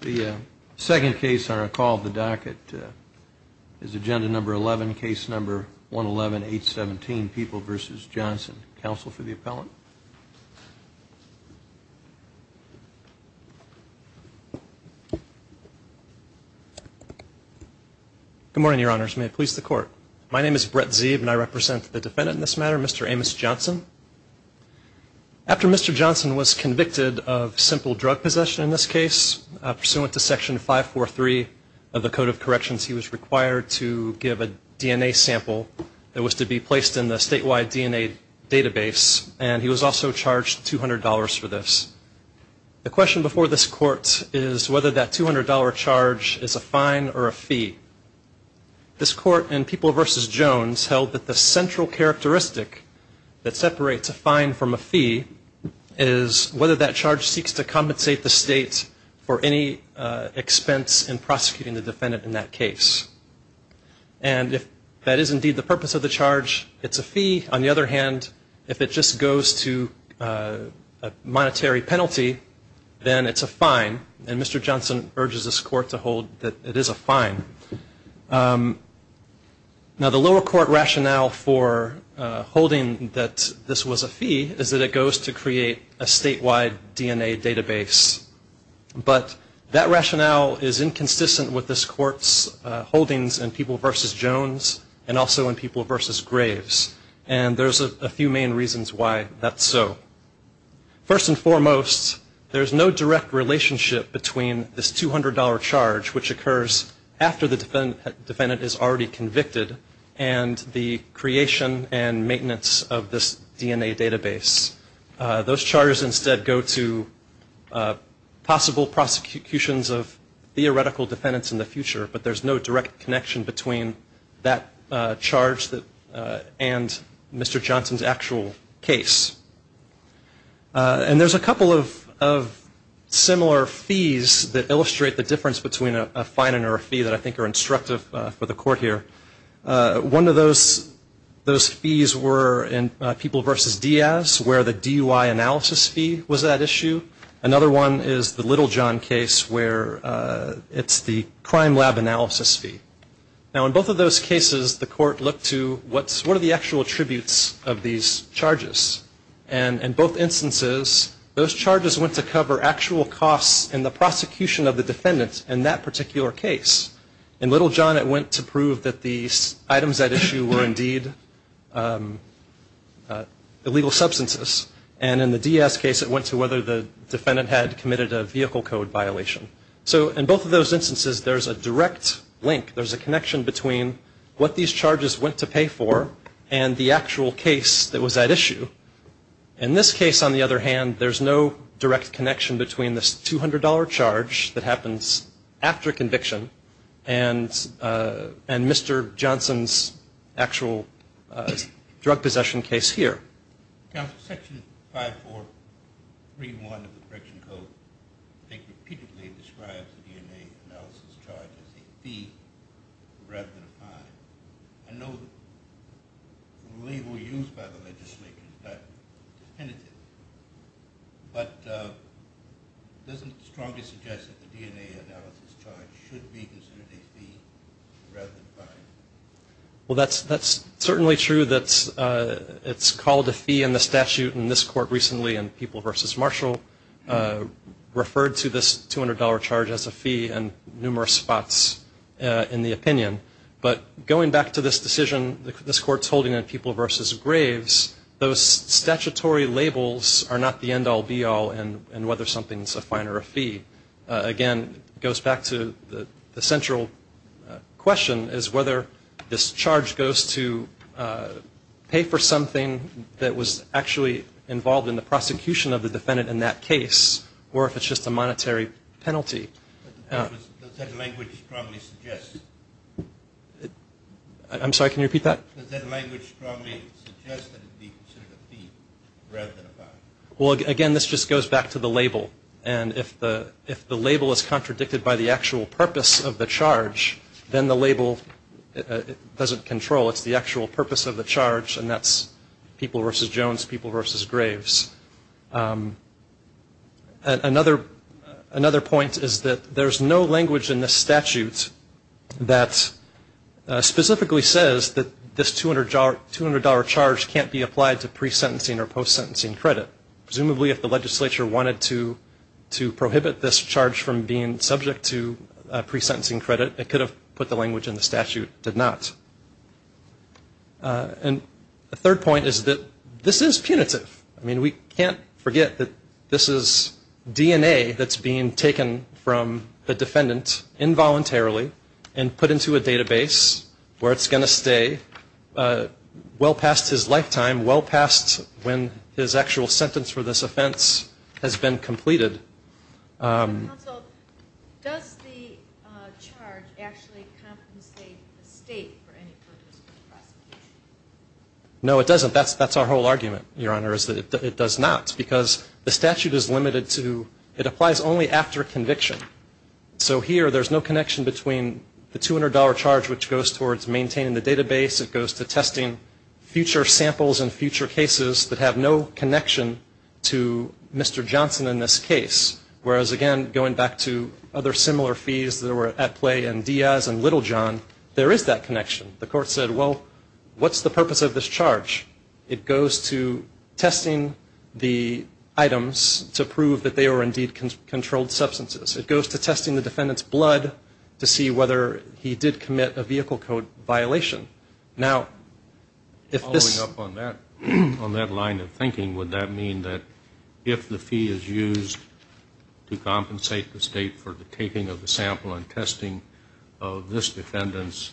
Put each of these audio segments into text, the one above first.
The second case on our call of the docket is agenda number 11, case number 111, 817, People v. Johnson. Counsel for the appellant. Good morning, your honors. May it please the court. My name is Brett Zeeb and I represent the defendant in this matter, Mr. Amos Johnson. After Mr. Johnson was convicted of simple drug possession in this case, pursuant to section 543 of the code of corrections, he was required to give a DNA sample that was to be placed in the statewide DNA database, and he was also charged $200 for this. The question before this court is whether that $200 charge is a fine or a fee. This court in People v. Jones held that the central characteristic that separates a fine from a fee is whether that charge seeks to compensate the state for any expense in prosecuting the defendant in that case. And if that is indeed the purpose of the charge, it's a fee. On the other hand, if it just goes to a monetary penalty, then it's a fine. And Mr. Johnson urges this court to hold that it is a fine. Now, the lower court rationale for holding that this was a fee is that it goes to create a statewide DNA database. But that rationale is inconsistent with this court's holdings in People v. Jones and also in People v. Graves, and there's a few main reasons why that's so. First and foremost, there's no direct relationship between this $200 charge, which occurs after the defendant is already convicted, and the creation and maintenance of this DNA database. Those charges instead go to possible prosecutions of theoretical defendants in the future, but there's no direct connection between that charge and Mr. Johnson's actual case. And there's a couple of similar fees that illustrate the difference between a fine and a fee that I think are instructive for the court here. One of those fees were in People v. Diaz, where the DUI analysis fee was that issue. Another one is the Littlejohn case, where it's the crime lab analysis fee. Now, in both of those cases, the court looked to what are the actual attributes of these charges. And in both instances, those charges went to cover actual costs in the prosecution of the defendant in that particular case. In Littlejohn, it went to prove that the items at issue were indeed illegal substances. And in the Diaz case, it went to whether the defendant had committed a vehicle code violation. So in both of those instances, there's a direct link. There's a connection between what these charges went to pay for and the actual case that was at issue. In this case, on the other hand, there's no direct connection between this $200 charge that happens after conviction and Mr. Johnson's actual drug possession case here. Now, Section 5431 of the Correction Code, I think, repeatedly describes the DNA analysis charge as a fee rather than a fine. I know the label used by the legislature is not definitive, but it doesn't strongly suggest that the DNA analysis charge should be considered a fee rather than a fine. Well, that's certainly true that it's called a fee in the statute in this court recently in People v. Marshall, referred to this $200 charge as a fee in numerous spots in the opinion. But going back to this decision this court's holding in People v. Graves, those statutory labels are not the end-all, be-all in whether something's a fine or a fee. Again, it goes back to the central question is whether this charge goes to pay for something that was actually involved in the prosecution of the defendant in that case, or if it's just a monetary penalty. Does that language strongly suggest that it should be considered a fee rather than a fine? Well, again, this just goes back to the label, and if the label is contradicted by the actual purpose of the charge, then the label doesn't control. It's the actual purpose of the charge, and that's People v. Jones, People v. Graves. Another point is that there's no language in this statute that specifically says that this $200 charge can't be applied to pre-sentencing or post-sentencing credit. Presumably, if the legislature wanted to prohibit this charge from being subject to pre-sentencing credit, it could have put the language in the statute. It did not. And a third point is that this is punitive. I mean, we can't forget that this is DNA that's being taken from the defendant involuntarily and put into a database where it's going to stay well past his lifetime, well past when his actual sentence was. And so the requirement for this offense has been completed. Counsel, does the charge actually compensate the state for any purpose of the prosecution? No, it doesn't. That's our whole argument, Your Honor, is that it does not, because the statute is limited to – it applies only after conviction. So here there's no connection between the $200 charge, which goes towards maintaining the database, it goes to testing future samples in future cases that have no connection to the status of the defendant. to Mr. Johnson in this case, whereas again, going back to other similar fees that were at play in Diaz and Little John, there is that connection. The court said, well, what's the purpose of this charge? It goes to testing the items to prove that they were indeed controlled substances. It goes to testing the defendant's blood to see whether he did commit a vehicle code violation. If the fee is used to compensate the state for the taking of the sample and testing of this defendant's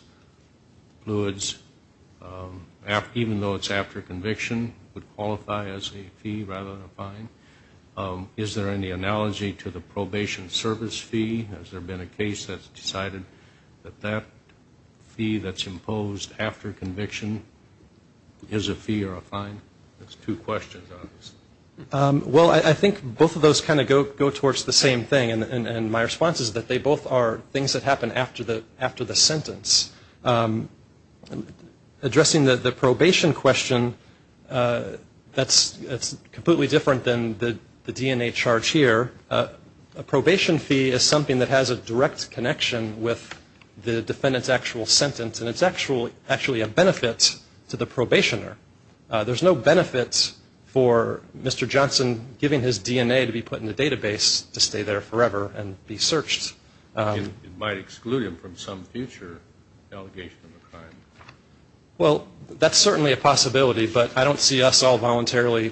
fluids, even though it's after conviction, it would qualify as a fee rather than a fine. Is there any analogy to the probation service fee? Has there been a case that's decided that that fee that's imposed after conviction is a fee or a fine? Well, I think both of those kind of go towards the same thing, and my response is that they both are things that happen after the sentence. Addressing the probation question, that's completely different than the DNA charge here. A probation fee is something that has a direct connection with the defendant's actual sentence, and it's actually a benefit to the probationer. There's no benefit for Mr. Johnson giving his DNA to be put in a database to stay there forever and be searched. It might exclude him from some future allegation of a crime. Well, that's certainly a possibility, but I don't see us all voluntarily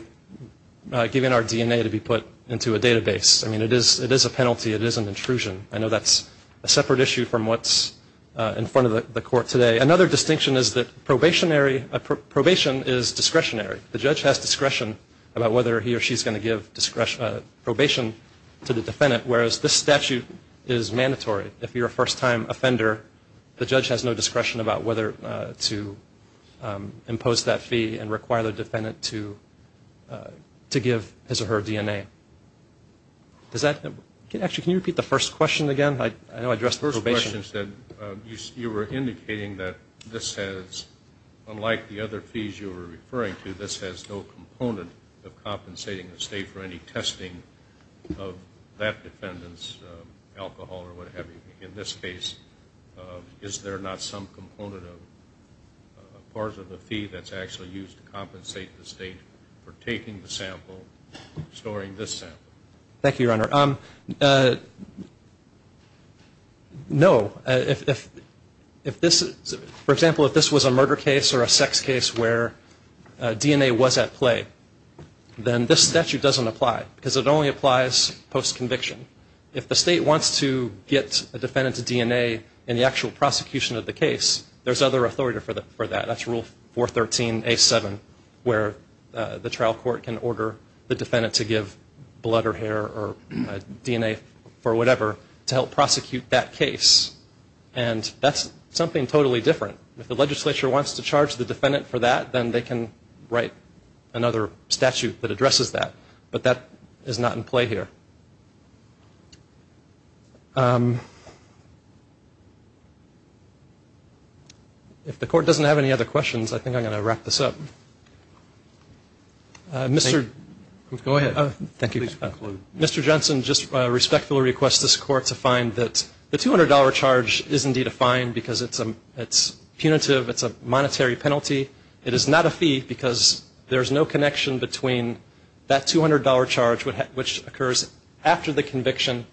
giving our DNA to be put into a database. I mean, it is a penalty. It is an intrusion. I know that's a separate issue from what's in front of the court today. Another distinction is that probation is discretionary. The judge has discretion about whether he or she's going to give probation to the defendant, whereas this statute is mandatory. If you're a first-time offender, the judge has no discretion about whether to impose that fee and require the defendant to give his or her DNA. Actually, can you repeat the first question again? You were indicating that this has, unlike the other fees you were referring to, this has no component of compensating the state for any testing of that defendant's alcohol or what have you. In this case, is there not some component of a part of the fee that's actually used to compensate the state for taking the sample, storing this sample? Thank you, Your Honor. No. For example, if this was a murder case or a sex case where DNA was at play, then this statute doesn't apply because it only applies post-conviction. If the state wants to get a defendant's DNA in the actual prosecution of the case, there's other authority for that. That's Rule 413A7 where the trial court can order the defendant to give blood or hair or DNA for whatever to help prosecute that case. And that's something totally different. If the legislature wants to charge the defendant for that, then they can write another statute that addresses that. But that is not in play here. If the Court doesn't have any other questions, I think I'm going to wrap this up. Go ahead. Please conclude. Mr. Johnson, just respectfully request this Court to find that the $200 charge is indeed a fine because it's punitive, it's a monetary penalty. It is not a fee because there's no connection between that $200 charge which occurs after the case, the conviction,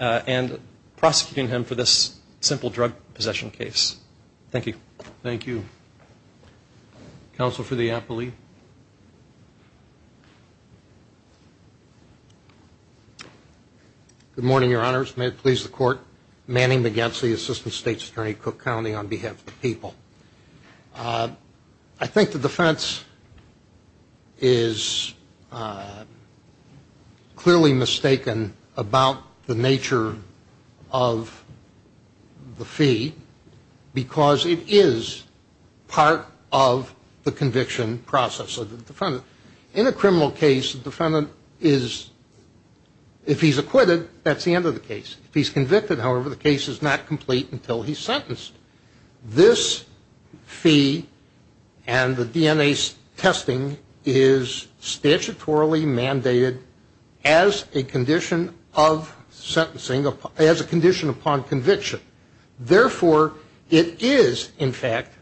and prosecuting him for this simple drug possession case. Thank you. Thank you. Counsel for the appellee. Good morning, Your Honors. May it please the Court, Manning McGetsy, Assistant State's Attorney, Cook County, on behalf of the people. I think the defense is clearly mistaken about the fact that it's a fine. It's a fine about the nature of the fee because it is part of the conviction process of the defendant. In a criminal case, the defendant is, if he's acquitted, that's the end of the case. If he's convicted, however, the case is not complete until he's sentenced. This fee and the DNA testing is statutorily mandated as a condition of the defendant. As a condition of sentencing, as a condition upon conviction. Therefore, it is, in fact,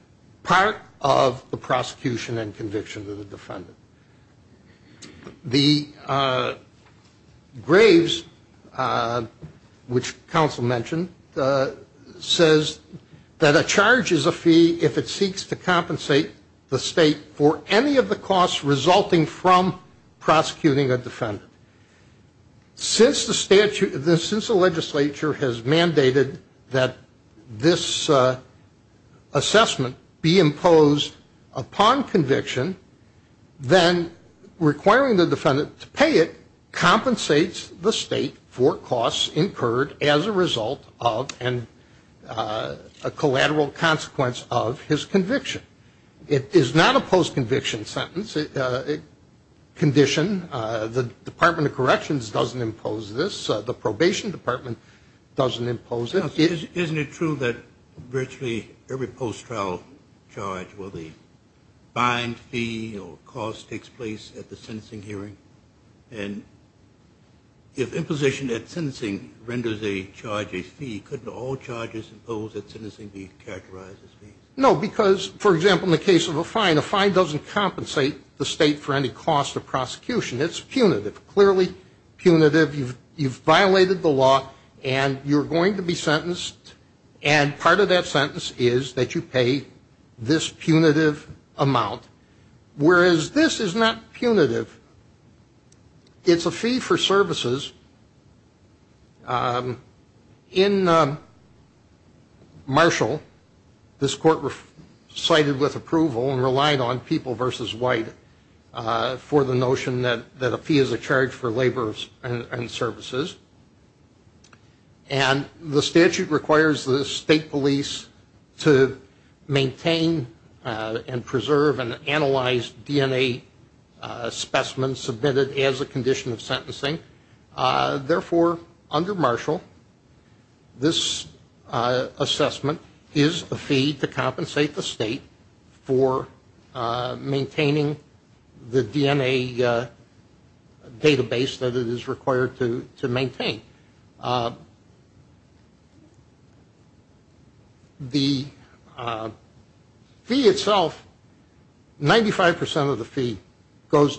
part of the prosecution and conviction of the defendant. The graves, which counsel mentioned, says that a charge is a fee if it seeks to compensate the state for any of the costs resulting from prosecuting a defendant. Since the legislature has mandated that this assessment be imposed upon conviction, then requiring the defendant to pay it compensates the state for costs incurred as a result of and a collateral consequence of his conviction. It is not a post-conviction sentence condition. The Department of Corrections doesn't impose this. The Probation Department doesn't impose it. Isn't it true that virtually every post-trial charge will be fine fee or cost takes place at the sentencing hearing? And if imposition at sentencing renders a charge a fee, couldn't all charges imposed at sentencing be characterized as fees? No, because, for example, in the case of a fine, a fine doesn't compensate the state for any cost of prosecution. It's punitive, clearly punitive. You've violated the law, and you're going to be sentenced, and part of that sentence is that you pay this punitive amount. Whereas this is not punitive. It's a fee for services. In Marshall, this court sided with approval and relied on people versus white for the notion that a fee is a charge for labor and services. And the statute requires the state police to maintain and preserve and analyze DNA specimens submitted as a condition of sentencing. Therefore, under Marshall, this assessment is a fee to compensate the state for maintaining the DNA database that it is required to maintain. The fee itself, 95 percent of the fee, goes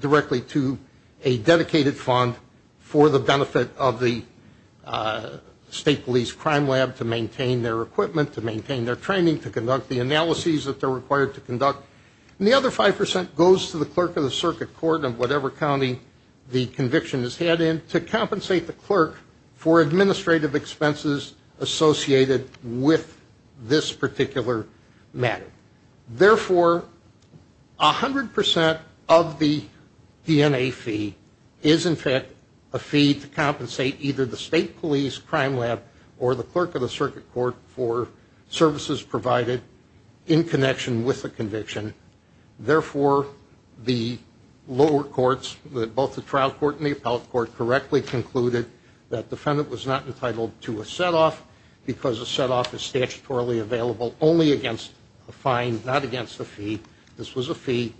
directly to a dedicated fund for the benefit of the state police crime lab to maintain their equipment, to maintain their training, to conduct the analyses that they're required to conduct. And the other 5 percent goes to the clerk of the circuit court of whatever county the conviction is had in to compensate the clerk for administrative expenses associated with this particular matter. Therefore, 100 percent of the DNA fee is, in fact, a fee to compensate either the state police crime lab or the clerk of the circuit court for services provided in connection with the conviction. Therefore, the lower courts, both the trial court and the appellate court, correctly concluded that defendant was not entitled to a set-off because a set-off is statutorily available only against a fine, not against a fee. This was a fee.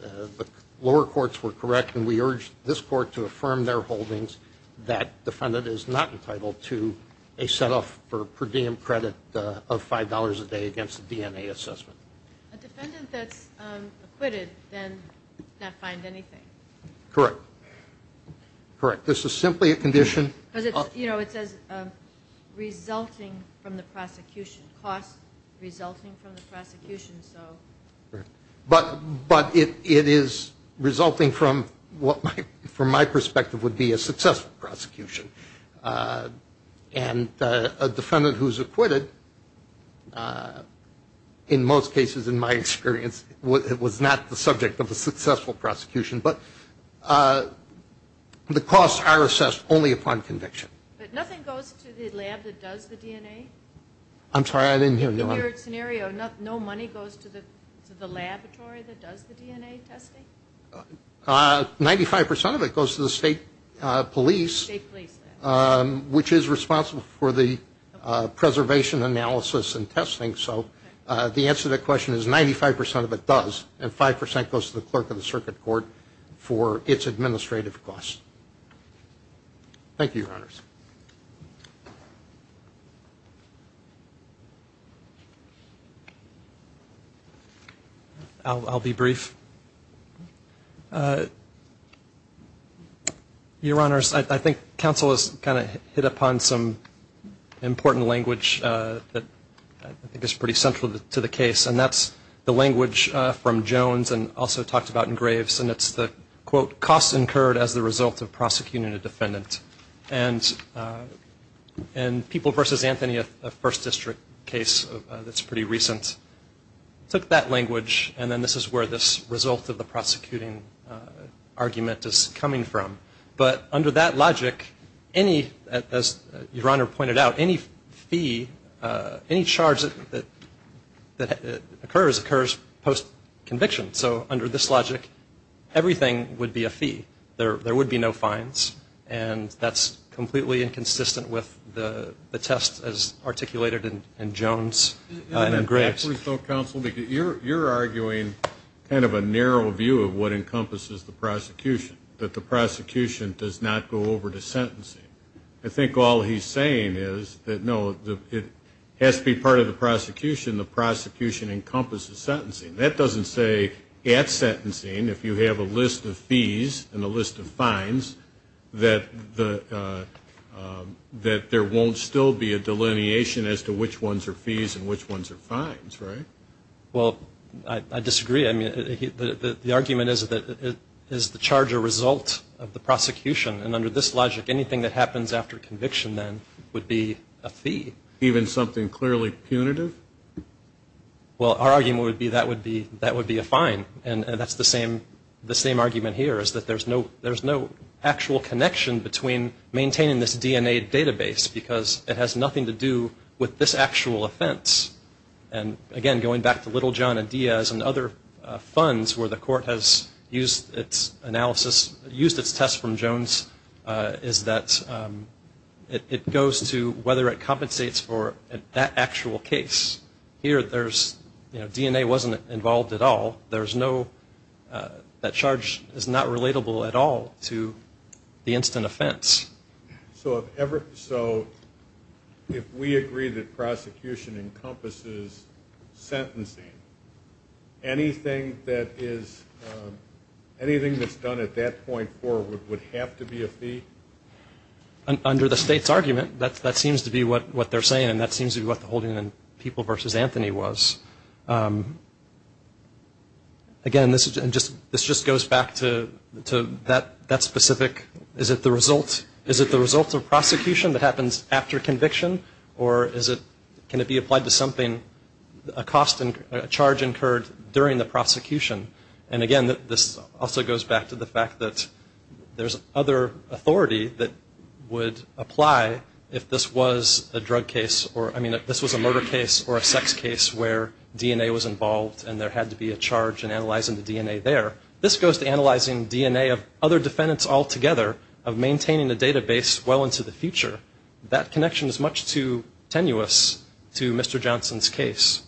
The lower courts were correct, and we urged this court to affirm their holdings that defendant is not entitled to a set-off for per diem credit of $5 a day against a DNA assessment. A defendant that's acquitted then cannot find anything. Correct. This is simply a condition. You know, it says resulting from the prosecution, cost resulting from the prosecution. But it is resulting from what, from my perspective, would be a successful prosecution. And a defendant who's acquitted, in most cases in my experience, was not the subject of a successful prosecution. But the costs are assessed only upon conviction. But nothing goes to the lab that does the DNA? I'm sorry, I didn't hear you. In your scenario, no money goes to the laboratory that does the DNA testing? 95% of it goes to the state police, which is responsible for the preservation analysis and testing. So the answer to that question is 95% of it does, and 5% goes to the clerk of the circuit court for its administrative costs. Thank you, Your Honors. I'll be brief. Your Honors, I think counsel has kind of hit upon some important language that I think is pretty central to the case, and that's the language from Jones and also talked about in Graves, and it's the, quote, cost incurred as the result of prosecuting a defendant. And People v. Anthony, a First District case that's pretty recent, took that language, and then this is where this result of the prosecuting argument is coming from. But under that logic, as Your Honor pointed out, any fee, any charge that occurs, occurs post-conviction. So under this logic, everything would be a fee. There would be no fines, and that's completely inconsistent with the test as articulated in Jones and in Graves. Counsel, you're arguing kind of a narrow view of what encompasses the prosecution, that the prosecution does not go over to sentencing. I think all he's saying is that, no, it has to be part of the prosecution. The prosecution encompasses sentencing. That doesn't say, at sentencing, if you have a list of fees and a list of fines, that there won't still be a delineation as to which ones are fees and which ones are fines, right? Well, I disagree. I mean, the argument is that it is the charge or result of the prosecution, and under this logic, anything that happens after conviction, then, would be a fee. Even something clearly punitive? Well, our argument would be that would be a fine, and that's the same argument here, is that there's no actual connection between maintaining this DNA database, because it has nothing to do with this actual offense. And, again, going back to Little, John, and Diaz and other funds where the court has used its analysis, used its test from Jones, is that it goes to whether it compensates for that actual case. Here, there's, you know, DNA wasn't involved at all. There's no, that charge is not relatable at all to the instant offense. So, if we agree that prosecution encompasses sentencing, anything that is anything that's done at that point forward would have to be a fee. Under the state's argument, that seems to be what they're saying, and that seems to be what the holding in People v. Anthony was. Again, this just goes back to that specific, is it the result of prosecution that happens after conviction, or can it be applied to something, a cost, a charge incurred during the prosecution? And, again, this also goes back to the particular authority that would apply if this was a drug case, or, I mean, if this was a murder case or a sex case where DNA was involved and there had to be a charge in analyzing the DNA there. This goes to analyzing DNA of other defendants altogether, of maintaining the database well into the future. That connection is much too tenuous to Mr. Johnson's case.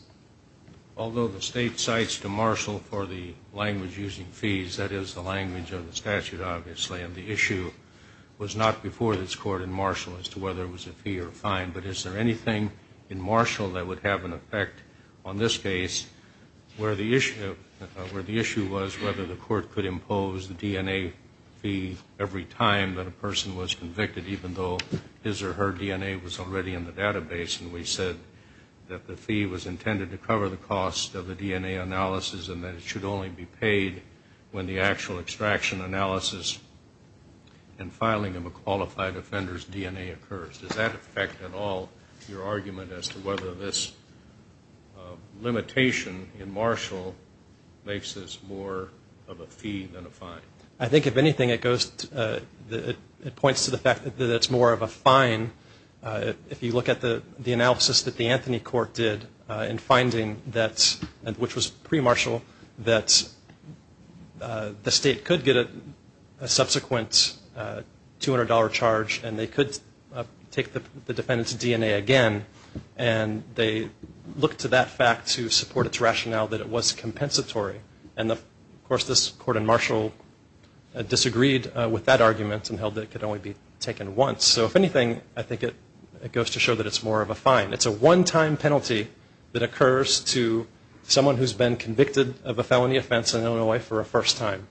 Although the state cites DeMarshall for the language using fees, that is the language of the statute, obviously, and the issue was not before this court in Marshall as to whether it was a fee or a fine, but is there anything in Marshall that would have an effect on this case where the issue was whether the court could impose the DNA fee every time that a person was convicted, even though his or her DNA was already in the database, and we said that the fee was intended to cover the cost of the DNA analysis and that it should only be paid when the actual extraction analysis and filing of a qualified offender's DNA occurs. Does that affect at all your argument as to whether this limitation in Marshall makes this more of a fee than a fine? I think, if anything, it goes, it points to the fact that it's more of a fine if you look at the analysis that the Anthony Court did in finding that, which was pre-Marshall, that the state could get a subsequent $200 charge and they could take the defendant's DNA again, and they looked to that fact to support its rationale that it was compensatory, and of course, this court in Marshall disagreed with that argument and held that it could only be taken once. So, if anything, I think it goes to show that it's more of a fine. It's a one-time penalty that occurs to someone who's been convicted of a felony offense in Illinois for a first time.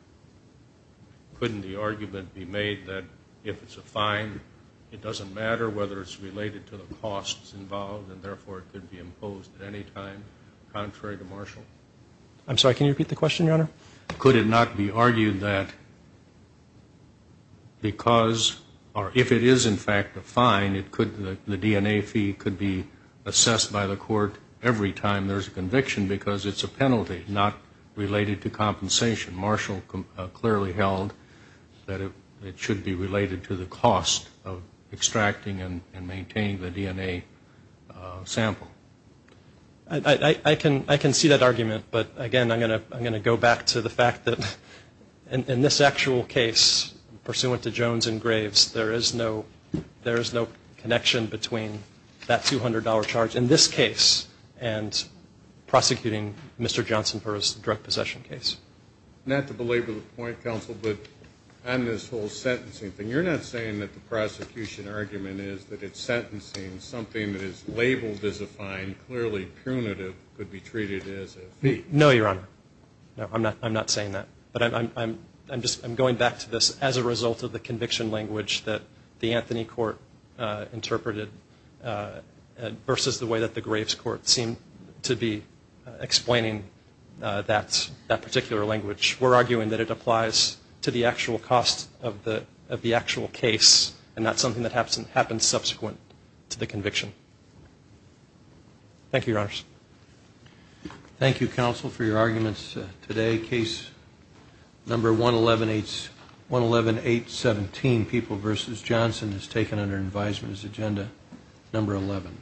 Couldn't the argument be made that if it's a fine, it doesn't matter whether it's related to the costs involved, and therefore it could be imposed at any time, contrary to Marshall? I'm sorry, can you repeat the question, Your Honor? Could it not be argued that because, or if it is in fact a fine, the DNA fee could be assessed by the court every time there's a conviction because it's a penalty, not related to compensation? Marshall clearly held that it should be related to the cost of extracting and maintaining the DNA sample. I can see that argument, but again, I'm going to go back to the fact that in this actual case, pursuant to Jones and Graves, there is no connection between that $200 charge in this case and prosecuting Mr. Johnson for his drug possession case. Not to belabor the point, counsel, but on this whole sentencing thing, you're not saying that the prosecution argument is that it's sentencing something that is labeled as a fine, clearly punitive, could be treated as a fee? No, Your Honor. I'm not saying that. But I'm going back to this as a result of the conviction language that the Anthony Court interpreted versus the way that the Graves Court seemed to be explaining that particular language. We're arguing that it applies to the actual cost of the actual case and not something that happens subsequent to the conviction. Thank you, Your Honors. Thank you, counsel, for your arguments today. Case number 11817, People v. Johnson, is taken under advisement as agenda number 11.